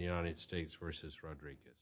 United States v. Rodriguez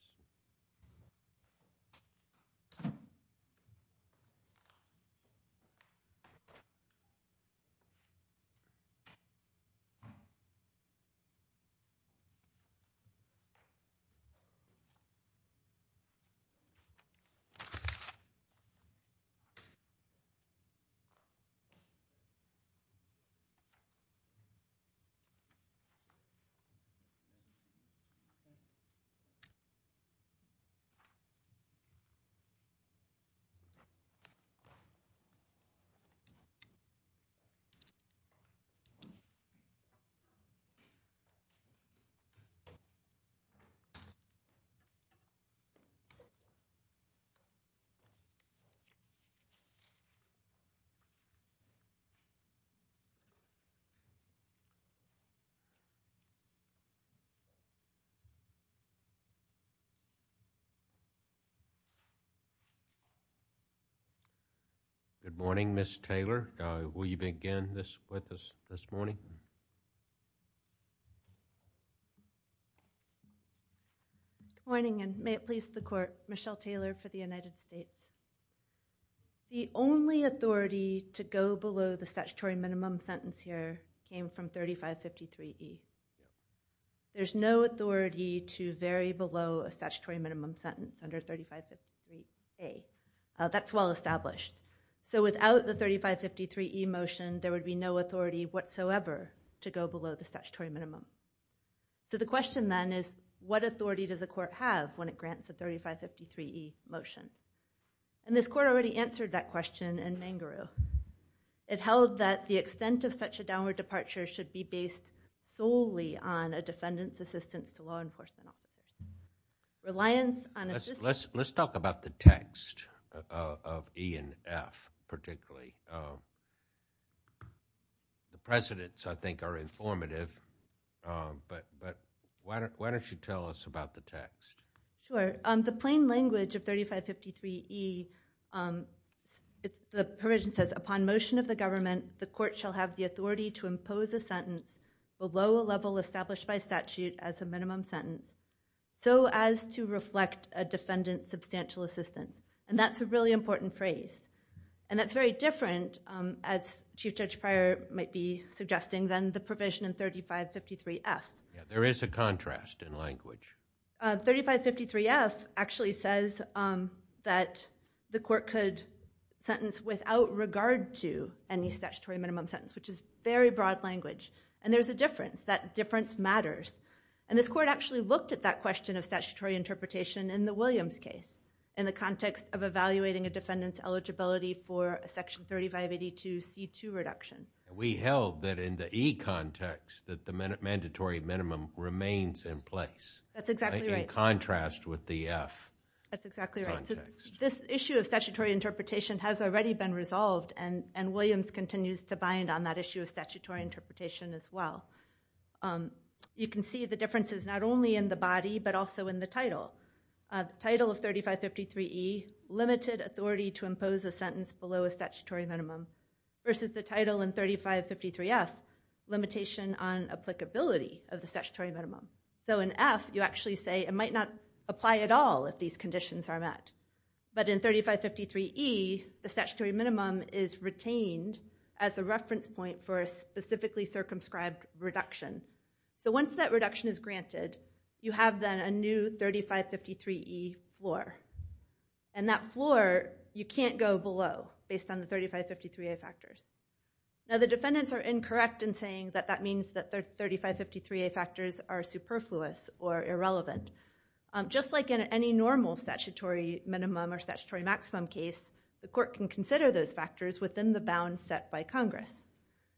Good morning, Ms. Taylor. Will you begin with us this morning? Good morning, and may it please the Court. Michelle Taylor for the United States. The only authority to go below the statutory minimum sentence here came from 3553E. There's no authority to vary below a statutory minimum sentence under 3553A. That's well established. So without the 3553E motion, there would be no authority whatsoever to go below the statutory minimum. So the question then is, what authority does the Court have when it grants a 3553E motion? And this Court already answered that question in Mangaroo. It held that the extent of such a downward departure should be based solely on a defendant's assistance to law enforcement officers. Reliance on assistance… Let's talk about the text of E and F, particularly. The precedents, I think, are informative, but why don't you tell us about the text? Sure. The plain language of 3553E, the provision says, Upon motion of the government, the Court shall have the authority to impose a sentence below a level established by statute as a minimum sentence so as to reflect a defendant's substantial assistance. And that's a really important phrase. And that's very different, as Chief Judge Pryor might be suggesting, than the provision in 3553F. There is a contrast in language. 3553F actually says that the Court could sentence without regard to any statutory minimum sentence, which is very broad language. And there's a difference. That difference matters. And this Court actually looked at that question of statutory interpretation in the Williams case in the context of evaluating a defendant's eligibility for a Section 3582C2 reduction. We held that in the E context that the mandatory minimum remains in place. That's exactly right. In contrast with the F context. That's exactly right. This issue of statutory interpretation has already been resolved, and Williams continues to bind on that issue of statutory interpretation as well. You can see the differences not only in the body, but also in the title. The title of 3553E, Limited Authority to Impose a Sentence Below a Statutory Minimum, versus the title in 3553F, Limitation on Applicability of the Statutory Minimum. So in F, you actually say it might not apply at all if these conditions are met. But in 3553E, the statutory minimum is retained as a reference point for a specifically circumscribed reduction. So once that reduction is granted, you have then a new 3553E floor. And that floor, you can't go below based on the 3553A factors. Now the defendants are incorrect in saying that that means that their 3553A factors are superfluous or irrelevant. Just like in any normal statutory minimum or statutory maximum case, the court can consider those factors within the bounds set by Congress.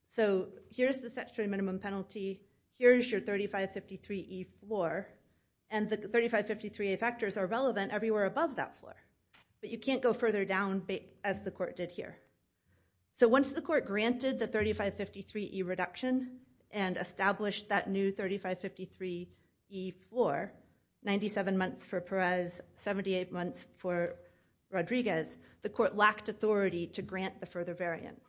So here's the statutory minimum penalty. Here's your 3553E floor. And the 3553A factors are relevant everywhere above that floor. But you can't go further down as the court did here. So once the court granted the 3553E reduction and established that new 3553E floor, 97 months for Perez, 78 months for Rodriguez, the court lacked authority to grant the further variance.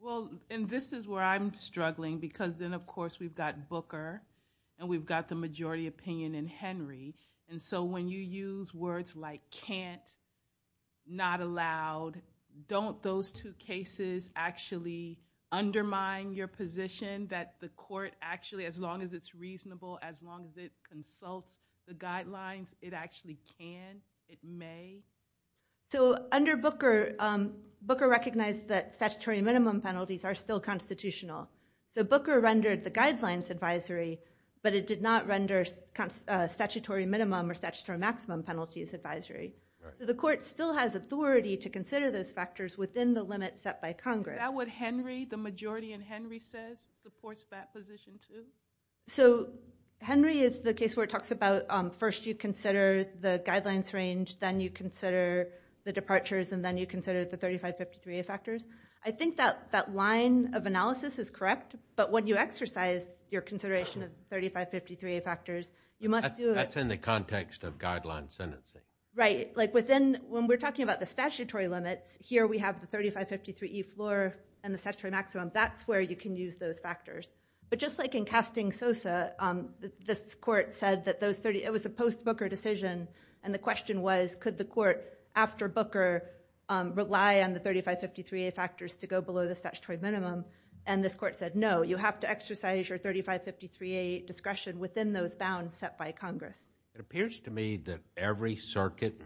Well, and this is where I'm struggling, because then of course we've got Booker, and we've got the majority opinion in Henry. And so when you use words like can't, not allowed, don't those two cases actually undermine your position that the court actually, as long as it's reasonable, as long as it consults the guidelines, it actually can, it may? So under Booker, Booker recognized that statutory minimum penalties are still constitutional. So Booker rendered the guidelines advisory, but it did not render statutory minimum or statutory maximum penalties advisory. So the court still has authority to consider those factors within the limits set by Congress. Is that what Henry, the majority in Henry says, supports that position too? So Henry is the case where it talks about first you consider the guidelines range, then you consider the departures, and then you consider the 3553A factors. I think that that line of analysis is correct, but when you exercise your consideration of the 3553A factors, you must do it. That's in the context of guideline sentencing. Right. Like within, when we're talking about the statutory limits, here we have the 3553E floor and the statutory maximum. That's where you can use those factors. But just like in casting Sosa, this court said that those 30, it was a post-Booker decision, and the question was could the court, after Booker, rely on the 3553A factors to go below the statutory minimum, and this court said no, you have to exercise your 3553A discretion within those bounds set by Congress. It appears to me that every circuit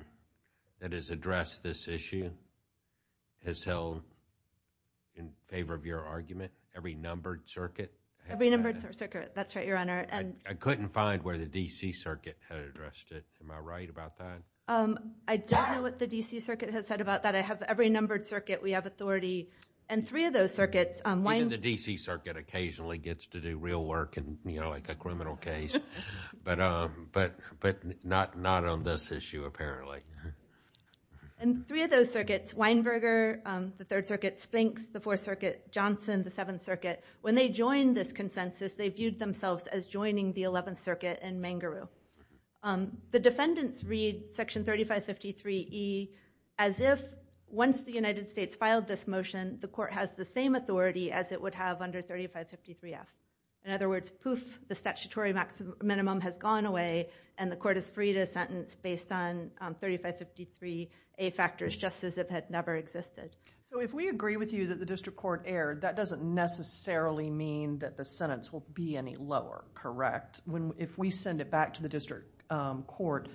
that has addressed this issue has held in favor of your argument, every numbered circuit. Every numbered circuit, that's right, Your Honor. I couldn't find where the D.C. Circuit had addressed it. Am I right about that? I don't know what the D.C. Circuit has said about that. I have every numbered circuit. We have authority, and three of those circuits, Weinberger. Even the D.C. Circuit occasionally gets to do real work in a criminal case, but not on this issue, apparently. And three of those circuits, Weinberger, the Third Circuit, Spinks, the Fourth Circuit, Johnson, the Seventh Circuit, when they joined this consensus, they viewed themselves as joining the Eleventh Circuit and Mangaroo. The defendants read Section 3553E as if, once the United States filed this motion, the court has the same authority as it would have under 3553F. In other words, poof, the statutory minimum has gone away, and the court is free to sentence based on 3553A factors, just as if it had never existed. So if we agree with you that the district court erred, that doesn't necessarily mean that the sentence will be any lower, correct? If we send it back to the district court,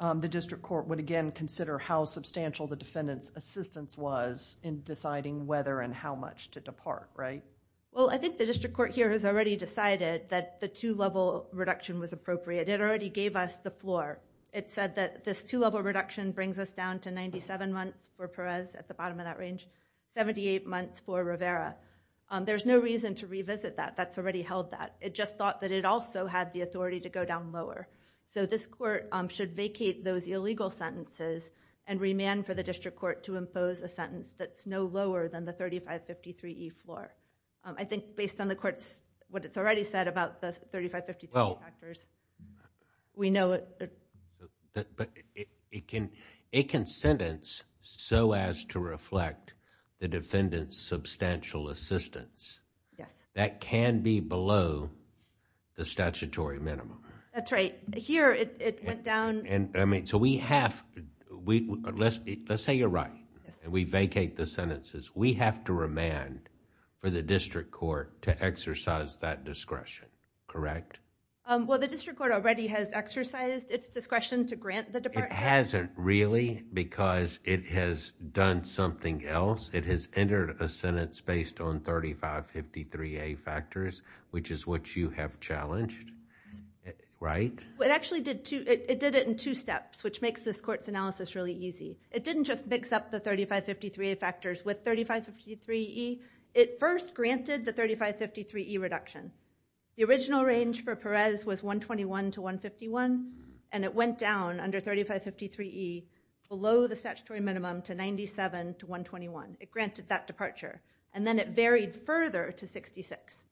the district court would again consider how substantial the defendant's assistance was in deciding whether and how much to depart, right? Well, I think the district court here has already decided that the two-level reduction was appropriate. It already gave us the floor. It said that this two-level reduction brings us down to 97 months for Perez at the bottom of that range, 78 months for Rivera. There's no reason to revisit that. That's already held that. It just thought that it also had the authority to go down lower. So this court should vacate those illegal sentences and remand for the district court to impose a sentence that's no lower than the 3553E floor. I think based on the court's, what it's already said about the 3553 factors, we know it. But it can sentence so as to reflect the defendant's substantial assistance. Yes. That can be below the statutory minimum. That's right. Here, it went down. So we have, let's say you're right and we vacate the sentences. We have to remand for the district court to exercise that discretion, correct? Well, the district court already has exercised its discretion to grant the department. It hasn't really because it has done something else. It has entered a sentence based on 3553A factors, which is what you have challenged, right? It actually did it in two steps, which makes this court's analysis really easy. It didn't just mix up the 3553A factors with 3553E. It first granted the 3553E reduction. The original range for Perez was 121 to 151. And it went down under 3553E below the statutory minimum to 97 to 121. It granted that departure. And then it varied further to 66.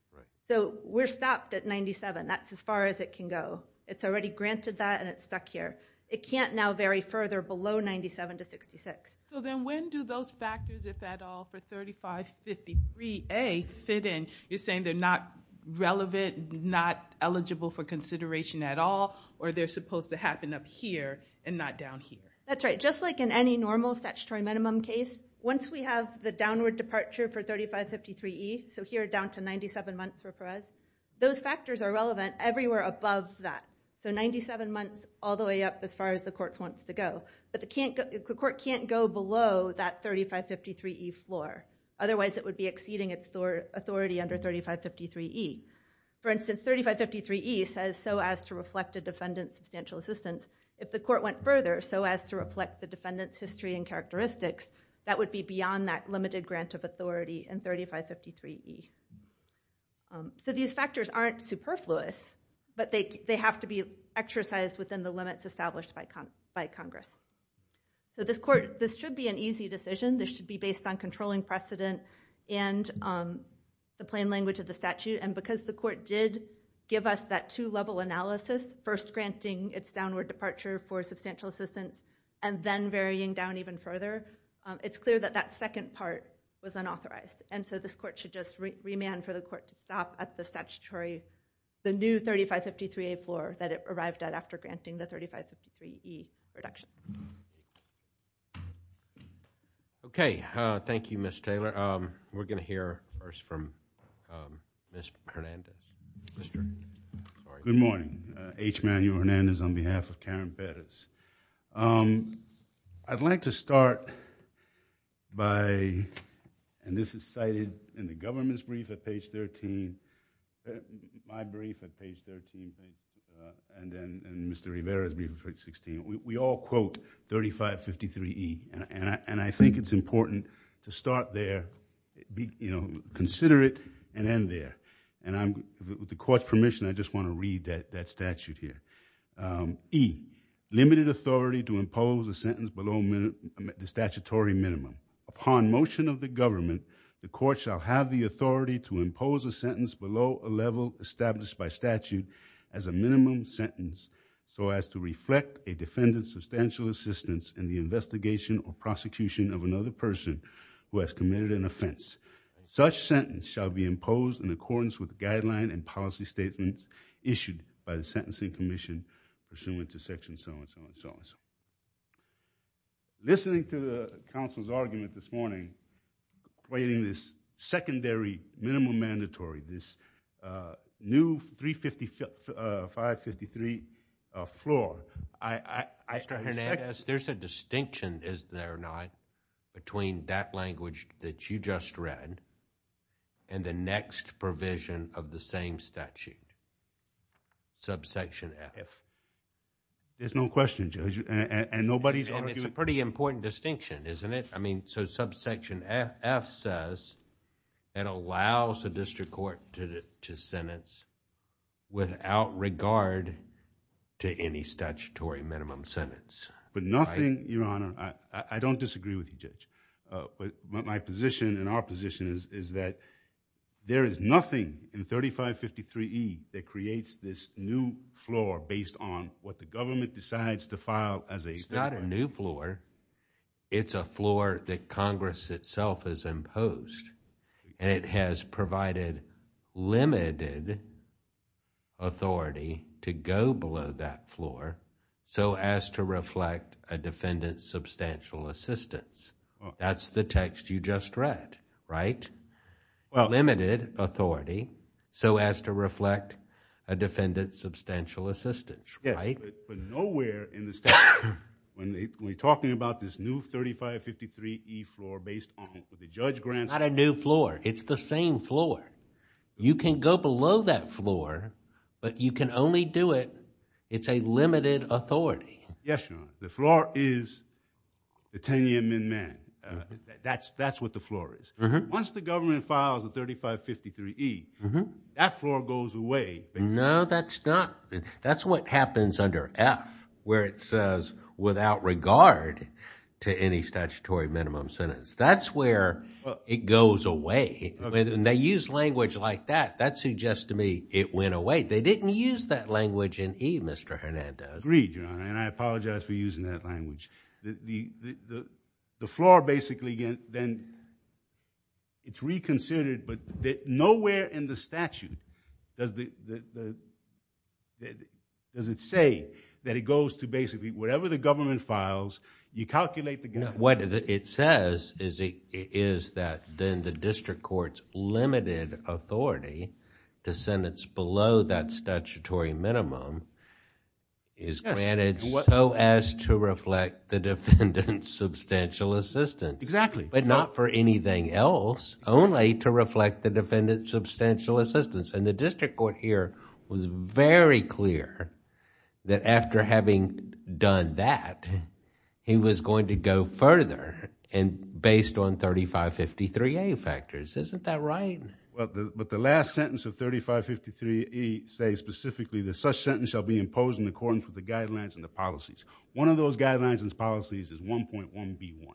So we're stopped at 97. That's as far as it can go. It's already granted that and it's stuck here. It can't now vary further below 97 to 66. So then when do those factors, if at all, for 3553A fit in? You're saying they're not relevant, not eligible for consideration at all, or they're supposed to happen up here and not down here? That's right. Just like in any normal statutory minimum case, once we have the downward departure for 3553E, so here down to 97 months for Perez, those factors are relevant everywhere above that. So 97 months all the way up as far as the court wants to go. But the court can't go below that 3553E floor. Otherwise it would be exceeding its authority under 3553E. For instance, 3553E says so as to reflect a defendant's substantial assistance. If the court went further, so as to reflect the defendant's history and characteristics, that would be beyond that limited grant of authority in 3553E. So these factors aren't superfluous, but they have to be exercised within the limits established by Congress. So this should be an easy decision. This should be based on controlling precedent and the plain language of the statute. And because the court did give us that two-level analysis, first granting its downward departure for substantial assistance and then varying down even further, it's clear that that second part was unauthorized. And so this court should just remand for the court to stop at the statutory, the new 3553A floor that it arrived at after granting the 3553E reduction. Okay. Thank you, Ms. Taylor. We're going to hear first from Ms. Hernandez. Good morning. H. Manuel Hernandez on behalf of Karen Perez. I'd like to start by, and this is cited in the government's brief at page 13, my brief at page 13, and then Mr. Rivera's brief at page 16. We all quote 3553E, and I think it's important to start there, consider it, and end there. And with the court's permission, I just want to read that statute here. E, limited authority to impose a sentence below the statutory minimum. Upon motion of the government, the court shall have the authority to impose a sentence below a level established by statute as a minimum sentence so as to reflect a defendant's substantial assistance in the investigation or prosecution of another person who has committed an offense. Such sentence shall be imposed in accordance with the guideline and policy statements issued by the Sentencing Commission pursuant to section so-and-so and so-and-so. Listening to the counsel's argument this morning, equating this secondary minimum mandatory, this new 3553 floor, I respect— Mr. Hernandez, there's a distinction, is there not, between that language that you just read and the next provision of the same statute, subsection F? There's no question, Judge, and nobody's arguing... And it's a pretty important distinction, isn't it? I mean, so subsection F says it allows the district court to sentence without regard to any statutory minimum sentence. But nothing, Your Honor, I don't disagree with you, Judge. But my position and our position is that there is nothing in 3553E that creates this new floor based on what the government decides to file as a... It's not a new floor. It's a floor that Congress itself has imposed. And it has provided limited authority to go below that floor so as to reflect a defendant's substantial assistance. That's the text you just read, right? Well... Limited authority so as to reflect a defendant's substantial assistance, right? Yes, but nowhere in the statute, when we're talking about this new 3553E floor based on what the judge grants... It's not a new floor. It's the same floor. You can go below that floor, but you can only do it... It's a limited authority. Yes, Your Honor. The floor is the 10-year amendment. That's what the floor is. Once the government files a 3553E, that floor goes away. No, that's not... That's what happens under F where it says, without regard to any statutory minimum sentence. That's where it goes away. And they use language like that. That suggests to me it went away. They didn't use that language in E, Mr. Hernandez. Agreed, Your Honor, and I apologize for using that language. The floor basically, then, it's reconsidered, but nowhere in the statute does it say that it goes to basically whatever the government files. You calculate the... What it says is that then the district court's limited authority to sentence below that statutory minimum is granted so as to reflect the defendant's substantial assistance. But not for anything else, only to reflect the defendant's substantial assistance. And the district court here was very clear that after having done that, he was going to go further based on 3553A factors. Isn't that right? Well, but the last sentence of 3553A says specifically that such sentence shall be imposed in accordance with the guidelines and the policies. One of those guidelines and policies is 1.1B1.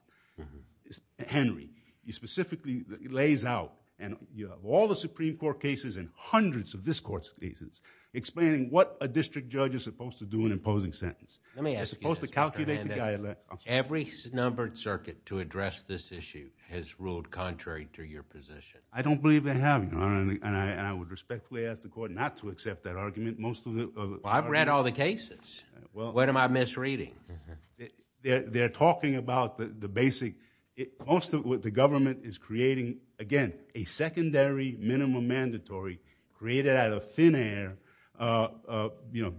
Henry, you specifically... It lays out, and you have all the Supreme Court cases and hundreds of this Court's cases, explaining what a district judge is supposed to do in imposing sentence. They're supposed to calculate the... Every numbered circuit to address this issue has ruled contrary to your position. I don't believe they have. And I would respectfully ask the Court not to accept that argument. Most of the... Well, I've read all the cases. What am I misreading? They're talking about the basic... Most of what the government is creating, again, a secondary minimum mandatory created out of thin air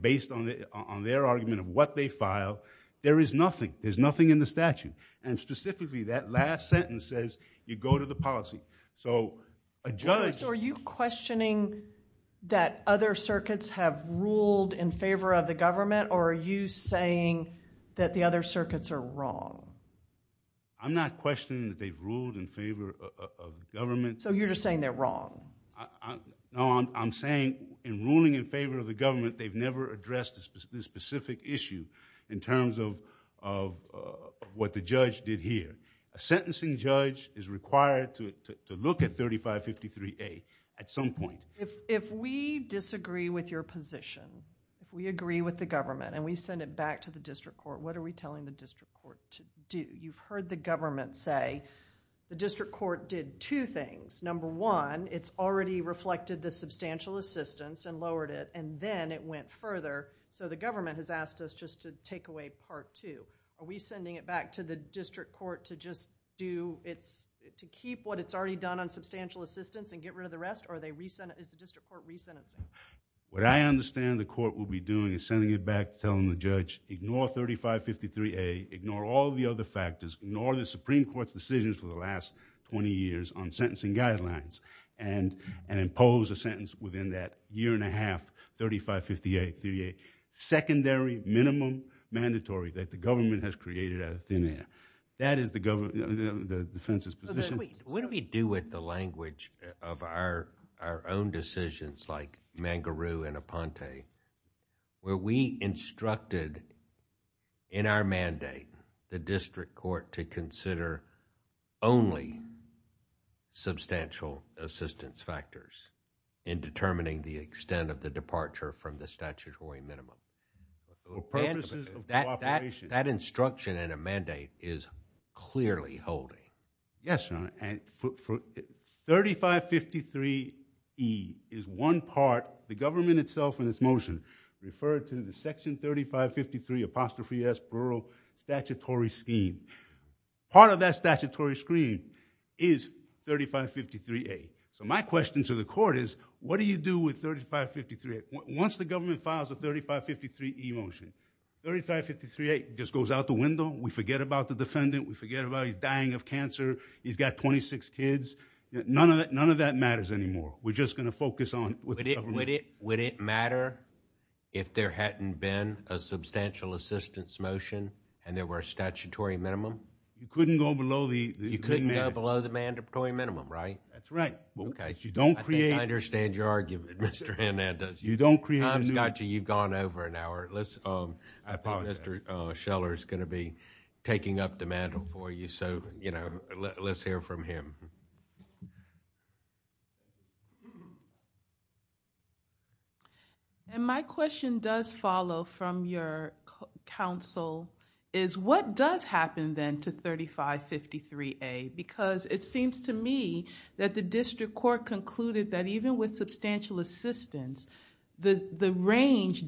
based on their argument of what they file. There is nothing. There's nothing in the statute. And specifically, that last sentence says you go to the policy. So a judge... Are you questioning that other circuits have ruled in favor of the government, or are you saying that the other circuits are wrong? I'm not questioning that they've ruled in favor of government. So you're just saying they're wrong? No, I'm saying in ruling in favor of the government, they've never addressed this specific issue in terms of what the judge did here. A sentencing judge is required to look at 3553A at some point. If we disagree with your position, if we agree with the government and we send it back to the district court, what are we telling the district court to do? You've heard the government say the district court did two things. Number one, it's already reflected the substantial assistance and lowered it, and then it went further. So the government has asked us just to take away part two. Are we sending it back to the district court to just do... to keep what it's already done on substantial assistance and get rid of the rest, or is the district court resentencing? What I understand the court will be doing is sending it back and telling the judge, ignore 3553A, ignore all the other factors, ignore the Supreme Court's decisions for the last twenty years on sentencing guidelines, and impose a sentence within that year and a half, 3553A, secondary minimum mandatory that the government has created out of thin air. That is the defense's position. What do we do with the language of our own decisions like Mangaroo and Aponte, where we instructed in our mandate the district court to consider only substantial assistance factors in determining the extent of the departure from the statutory minimum? That instruction in a mandate is clearly holding. Yes, Your Honor. 3553E is one part. The government itself in its motion referred to the section 3553 apostrophe S, plural, statutory scheme. Part of that statutory scheme is 3553A. My question to the court is, what do you do with 3553A? Once the government files a 3553E motion, 3553A just goes out the window. We forget about the defendant. We forget about his dying of cancer. He's got twenty-six kids. None of that matters anymore. We're just going to focus on... Would it matter if there hadn't been a substantial assistance motion and there were a statutory minimum? You couldn't go below the mandatory minimum, right? That's right. You don't create... I understand your argument, Mr. Hernandez. You don't create... I've got you. You've gone over an hour. I apologize. I think Mr. Scheller is going to be taking up the mantle for you, so let's hear from him. My question does follow from your counsel, is what does happen then to 3553A? Because it seems to me that the district court concluded that even with substantial assistance, the range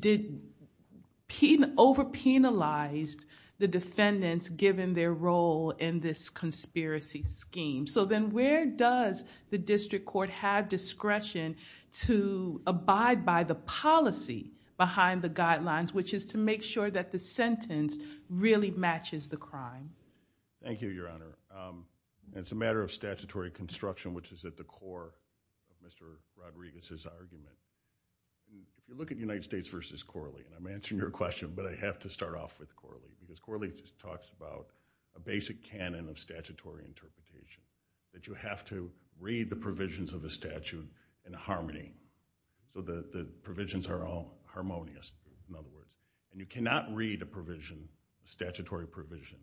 over-penalized the defendants given their role in this conspiracy scheme. Then where does the district court have discretion to abide by the policy behind the guidelines, which is to make sure that the sentence really matches the crime? Thank you, Your Honor. It's a matter of statutory construction, which is at the core of Mr. Rodriguez's argument. If you look at United States v. Corley, and I'm answering your question, but I have to start off with Corley because Corley talks about a basic canon of statutory interpretation, that you have to read the provisions of a statute in harmony so that the provisions are all harmonious, in other words. And you cannot read a provision, a statutory provision,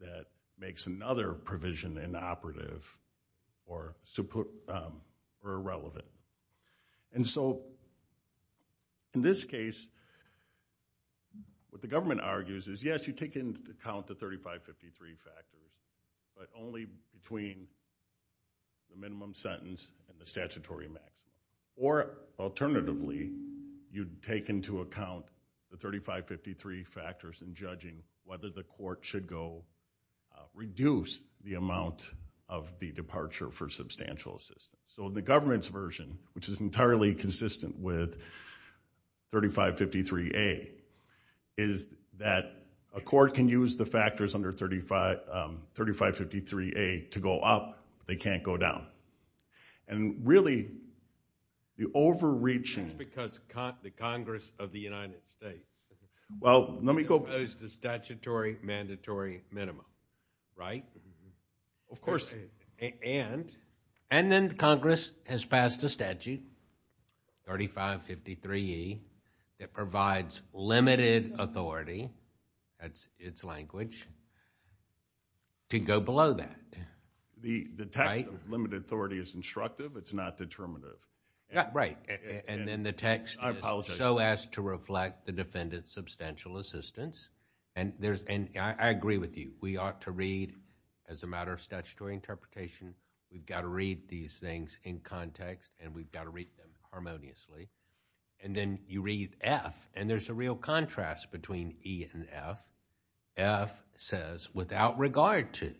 that makes another provision inoperative or irrelevant. And so in this case, what the government argues is, yes, you take into account the 3553 factors, but only between the minimum sentence and the statutory maximum. Or alternatively, you take into account the 3553 factors in judging whether the court should go reduce the amount of the departure for substantial assistance. So the government's version, which is entirely consistent with 3553A, is that a court can use the factors under 3553A to go up, but they can't go down. And really, the overreaching... That's because the Congress of the United States... Well, let me go... Opposed the statutory mandatory minimum, right? Of course, and... And then Congress has passed a statute, 3553E, that provides limited authority, that's its language, to go below that. The text of limited authority is instructive, it's not determinative. Yeah, right. And then the text is so as to reflect the defendant's substantial assistance. And I agree with you. We ought to read, as a matter of statutory interpretation, we've got to read these things in context, and we've got to read them harmoniously. And then you read F, and there's a real contrast between E and F. F says, without regard to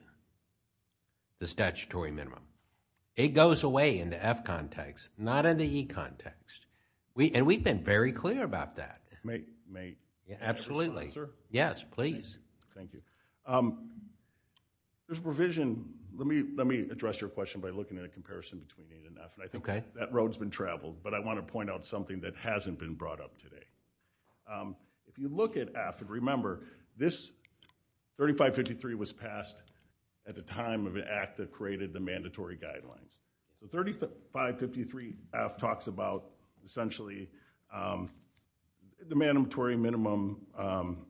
the statutory minimum. It goes away in the F context, not in the E context. And we've been very clear about that. May I respond, sir? Yes, please. Thank you. There's provision... Let me address your question by looking at a comparison between E and F, and I think that road's been traveled, but I want to point out something that hasn't been brought up today. If you look at F, and remember, this 3553 was passed at the time of an act that created the mandatory guidelines. The 3553 F talks about, essentially, the mandatory minimum...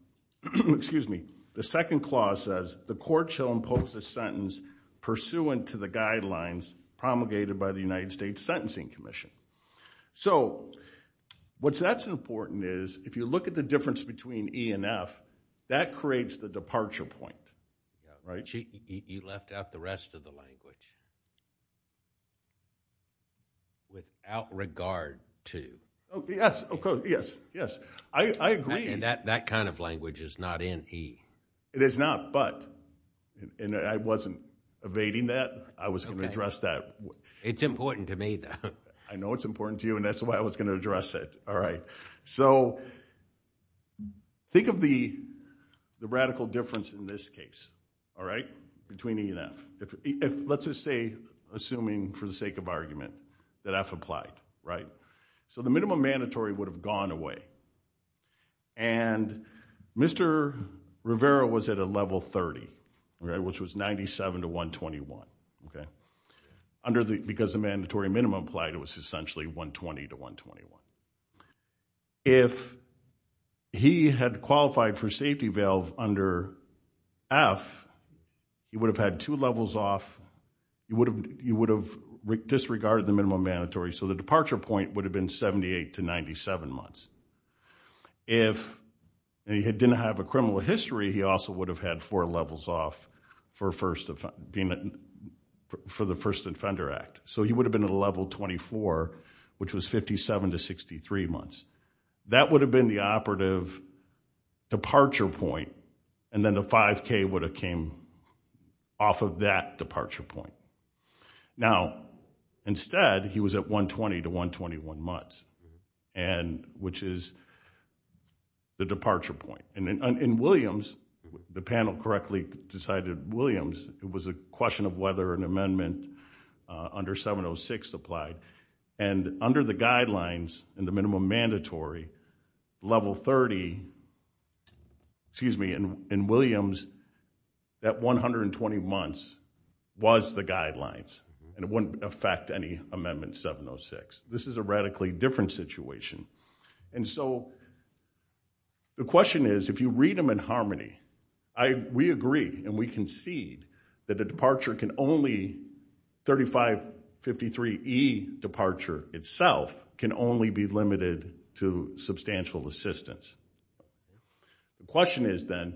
Excuse me. The second clause says, the court shall impose a sentence pursuant to the guidelines promulgated by the United States Sentencing Commission. So what's important is, if you look at the difference between E and F, that creates the departure point. You left out the rest of the language. Without regard to. Yes, yes. I agree. That kind of language is not in E. It is not, but. And I wasn't evading that. I was going to address that. It's important to me, though. I know it's important to you, and that's why I was going to address it. So think of the radical difference in this case between E and F. Let's just say, assuming for the sake of argument, that F applied. So the minimum mandatory would have gone away, and Mr. Rivera was at a level 30, which was 97 to 121. Because the mandatory minimum applied was essentially 120 to 121. If he had qualified for safety valve under F, he would have had two levels off. He would have disregarded the minimum mandatory, so the departure point would have been 78 to 97 months. If he didn't have a criminal history, he also would have had four levels off for the first offender act. So he would have been at a level 24, which was 57 to 63 months. That would have been the operative departure point, and then the 5K would have came off of that departure point. Now, instead, he was at 120 to 121 months, which is the departure point. In Williams, the panel correctly decided Williams. It was a question of whether an amendment under 706 applied. And under the guidelines in the minimum mandatory, level 30, excuse me, in Williams, that 120 months was the guidelines, and it wouldn't affect any amendment 706. This is a radically different situation. And so the question is, if you read them in harmony, we agree and we concede that a departure can only 3553E departure itself can only be limited to substantial assistance. The question is then,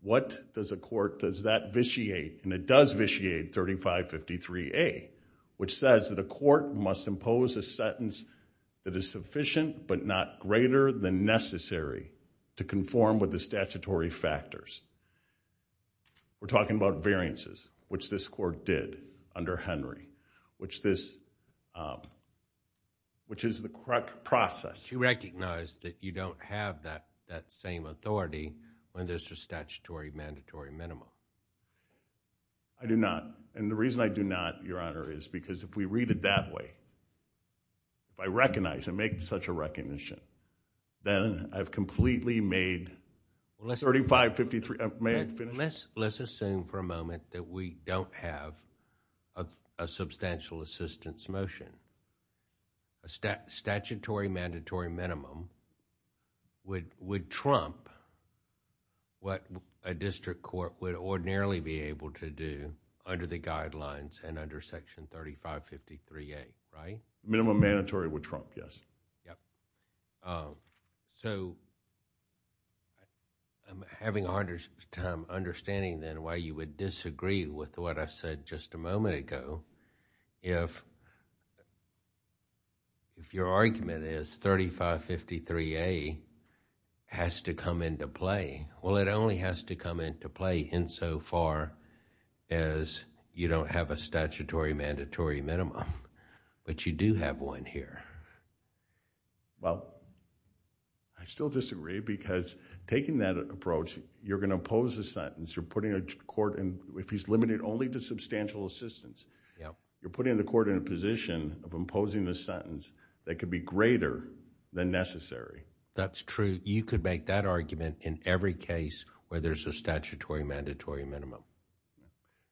what does a court, does that vitiate, and it does vitiate 3553A, which says that a court must impose a sentence that is sufficient but not greater than necessary to conform with the statutory factors. We're talking about variances, which this court did under Henry, which is the correct process. Do you recognize that you don't have that same authority when there's a statutory mandatory minimum? I do not, and the reason I do not, Your Honor, is because if we read it that way, if I recognize and make such a recognition, then I've completely made 3553... May I finish? Let's assume for a moment that we don't have a substantial assistance motion. A statutory mandatory minimum would trump what a district court would ordinarily be able to do under the guidelines and under Section 3553A, right? Minimum mandatory would trump, yes. Yep. So, I'm having a hard time understanding then why you would disagree with what I said just a moment ago. If your argument is 3553A has to come into play, well, it only has to come into play insofar as you don't have a statutory mandatory minimum, but you do have one here. Well, I still disagree because taking that approach, you're going to impose a sentence. You're putting a court... If he's limited only to substantial assistance, you're putting the court in a position of imposing a sentence that could be greater than necessary. That's true. You could make that argument in every case where there's a statutory mandatory minimum.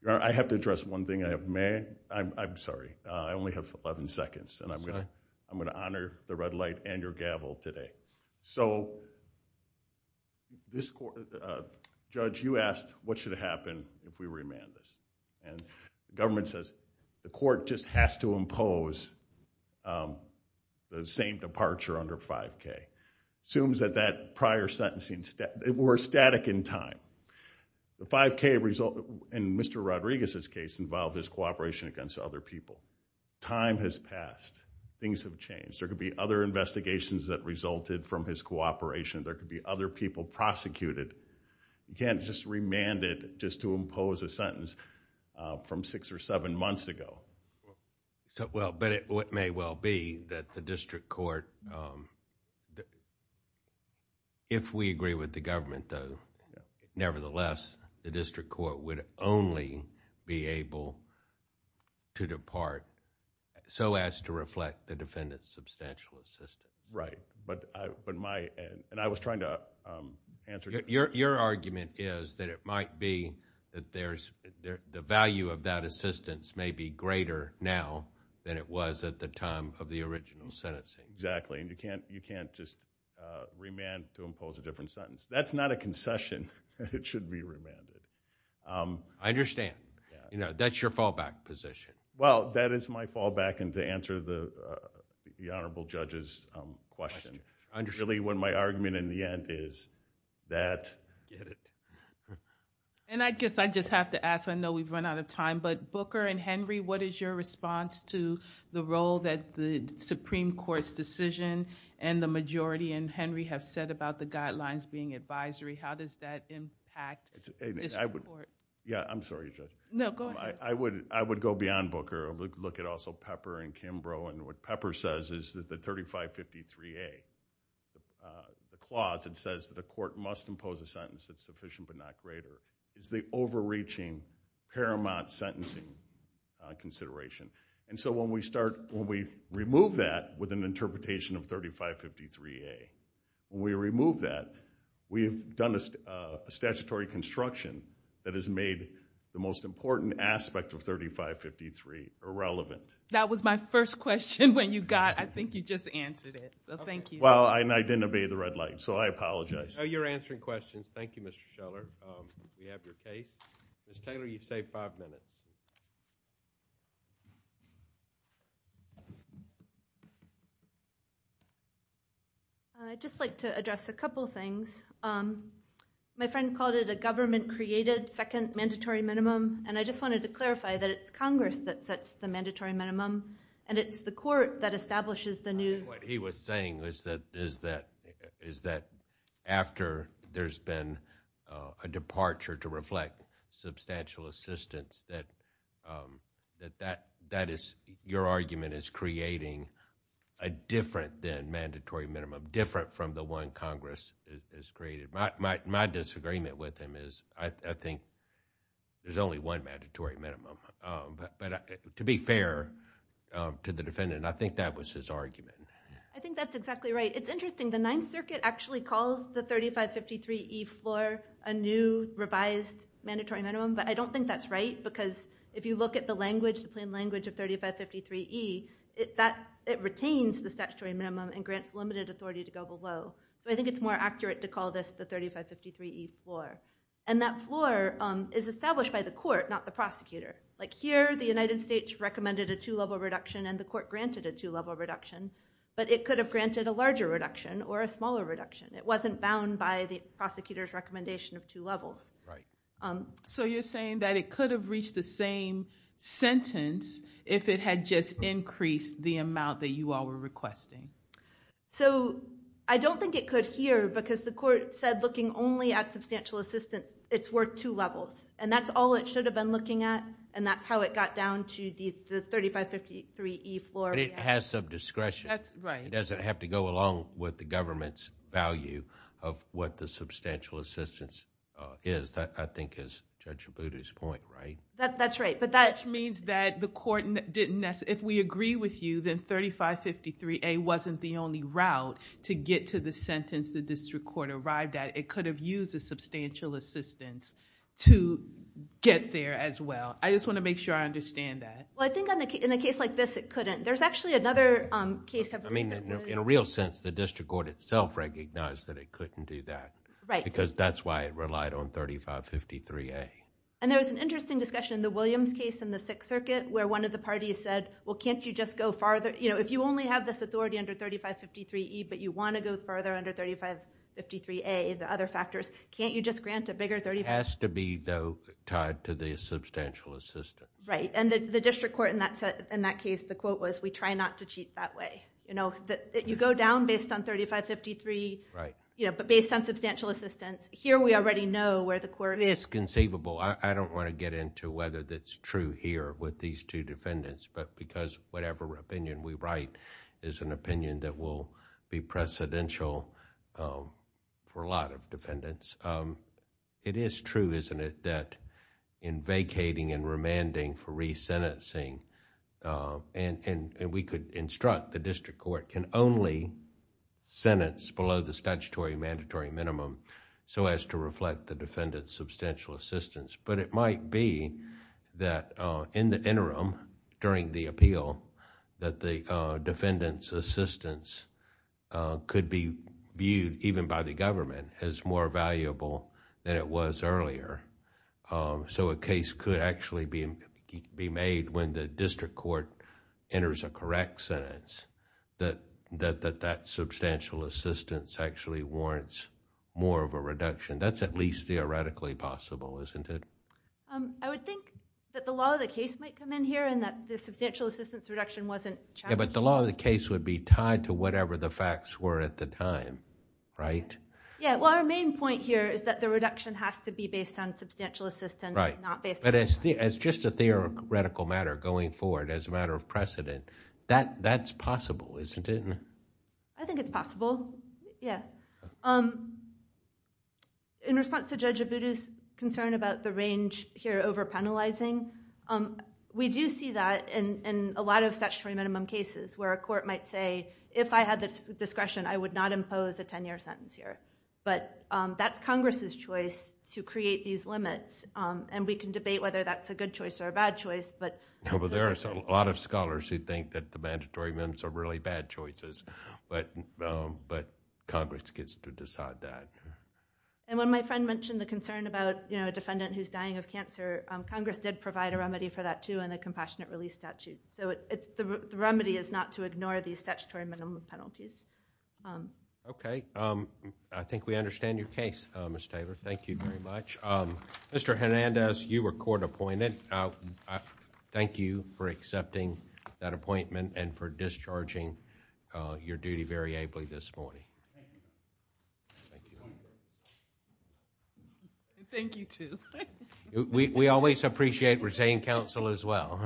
Your Honor, I have to address one thing. I'm sorry. I only have eleven seconds. I'm going to honor the red light and your gavel today. Judge, you asked what should happen if we remand this. The government says the court just has to impose the same departure under 5K. Assumes that that prior sentencing... We're static in time. The 5K result in Mr. Rodriguez's case involved his cooperation against other people. Time has passed. Things have changed. There could be other investigations that resulted from his cooperation. There could be other people prosecuted. You can't just remand it just to impose a sentence from six or seven months ago. It may well be that the district court... If we agree with the government though, nevertheless, the district court would only be able to depart so as to reflect the defendant's substantial assistance. Right. I was trying to answer... Your argument is that it might be that the value of that assistance may be greater now than it was at the time of the original sentencing. Exactly. You can't just remand to impose a different sentence. That's not a concession that it should be remanded. I understand. That's your fallback position. Well, that is my fallback and to answer the Honorable Judge's question. Really, what my argument in the end is that... I get it. I guess I just have to ask. I know we've run out of time. But Booker and Henry, what is your response to the role that the Supreme Court's decision and the majority in Henry have set about the guidelines being advisory? How does that impact the district court? I'm sorry, Judge. No, go ahead. I would go beyond Booker and look at also Pepper and Kimbrough. What Pepper says is that the 3553A, the clause that says that the court must impose a sentence that's sufficient but not greater, is the overreaching paramount sentencing consideration. So when we remove that with an interpretation of 3553A, when we remove that, we've done a statutory construction that has made the most important aspect of 3553 irrelevant. That was my first question when you got it. I think you just answered it. So thank you. Well, I didn't obey the red light, so I apologize. You're answering questions. Thank you, Mr. Scheller. We have your case. Ms. Taylor, you've saved five minutes. I'd just like to address a couple things. My friend called it a government-created second mandatory minimum, and I just wanted to clarify that it's Congress that sets the mandatory minimum and it's the court that establishes the new... I think what he was saying is that after there's been a departure to reflect substantial assistance, that your argument is creating a different than mandatory minimum, different from the one Congress has created. My disagreement with him is I think there's only one mandatory minimum. To be fair to the defendant, I think that was his argument. I think that's exactly right. It's interesting. The Ninth Circuit actually calls the 3553E floor a new revised mandatory minimum, but I don't think that's right because if you look at the language, the plain language of 3553E, it retains the statutory minimum and grants limited authority to go below. So I think it's more accurate to call this the 3553E floor. And that floor is established by the court, not the prosecutor. Like here, the United States recommended a two-level reduction and the court granted a two-level reduction, but it could have granted a larger reduction or a smaller reduction. It wasn't bound by the prosecutor's recommendation of two levels. So you're saying that it could have reached the same sentence if it had just increased the amount that you all were requesting. So I don't think it could here because the court said by looking only at substantial assistance, it's worth two levels. And that's all it should have been looking at and that's how it got down to the 3553E floor. But it has some discretion. That's right. It doesn't have to go along with the government's value of what the substantial assistance is. That, I think, is Judge Abboudi's point, right? That's right, but that... Which means that the court didn't necessarily... If we agree with you, then 3553A wasn't the only route to get to the sentence the district court arrived at. It could have used a substantial assistance to get there as well. I just want to make sure I understand that. Well, I think in a case like this, it couldn't. There's actually another case... I mean, in a real sense, the district court itself recognized that it couldn't do that because that's why it relied on 3553A. And there was an interesting discussion in the Williams case in the Sixth Circuit where one of the parties said, well, can't you just go farther... If you only have this authority under 3553E, but you want to go further under 3553A, the other factors, can't you just grant a bigger... It has to be, though, tied to the substantial assistance. Right. And the district court in that case, the quote was, we try not to cheat that way. You go down based on 3553, but based on substantial assistance, here we already know where the court... It's conceivable. I don't want to get into whether that's true here with these two defendants, but because whatever opinion we write is an opinion that will be precedential for a lot of defendants. It is true, isn't it, that in vacating and remanding for resentencing... And we could instruct the district court can only sentence below the statutory mandatory minimum so as to reflect the defendant's substantial assistance. But it might be that in the interim, during the appeal, that the defendant's assistance could be viewed, even by the government, as more valuable than it was earlier. So a case could actually be made when the district court enters a correct sentence that that substantial assistance actually warrants more of a reduction. That's at least theoretically possible, isn't it? I would think that the law of the case might come in here and that the substantial assistance reduction wasn't challenged. Yeah, but the law of the case would be tied to whatever the facts were at the time, right? Yeah, well, our main point here is that the reduction has to be based on substantial assistance, not based on... Right, but as just a theoretical matter going forward, as a matter of precedent, that's possible, isn't it? I think it's possible, yeah. In response to Judge Abudu's concern about the range here over-penalizing, we do see that in a lot of statutory minimum cases where a court might say, if I had the discretion, I would not impose a 10-year sentence here. But that's Congress's choice to create these limits, and we can debate whether that's a good choice or a bad choice, but... No, but there are a lot of scholars who think that the mandatory minimums are really bad choices, but Congress gets to decide that. When my friend mentioned the concern about a defendant who's dying of cancer, Congress did provide a remedy for that, too, in the Compassionate Release Statute. The remedy is not to ignore these statutory minimum penalties. Okay. I think we understand your case, Ms. Taylor. Thank you very much. Mr. Hernandez, you were court appointed. Thank you for accepting that appointment and for discharging your duty very ably this morning. Thank you, too. We always appreciate retained counsel as well.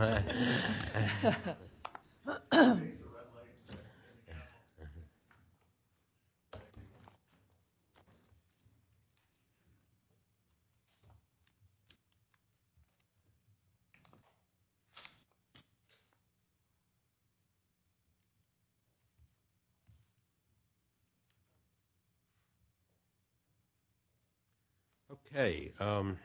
Thank you.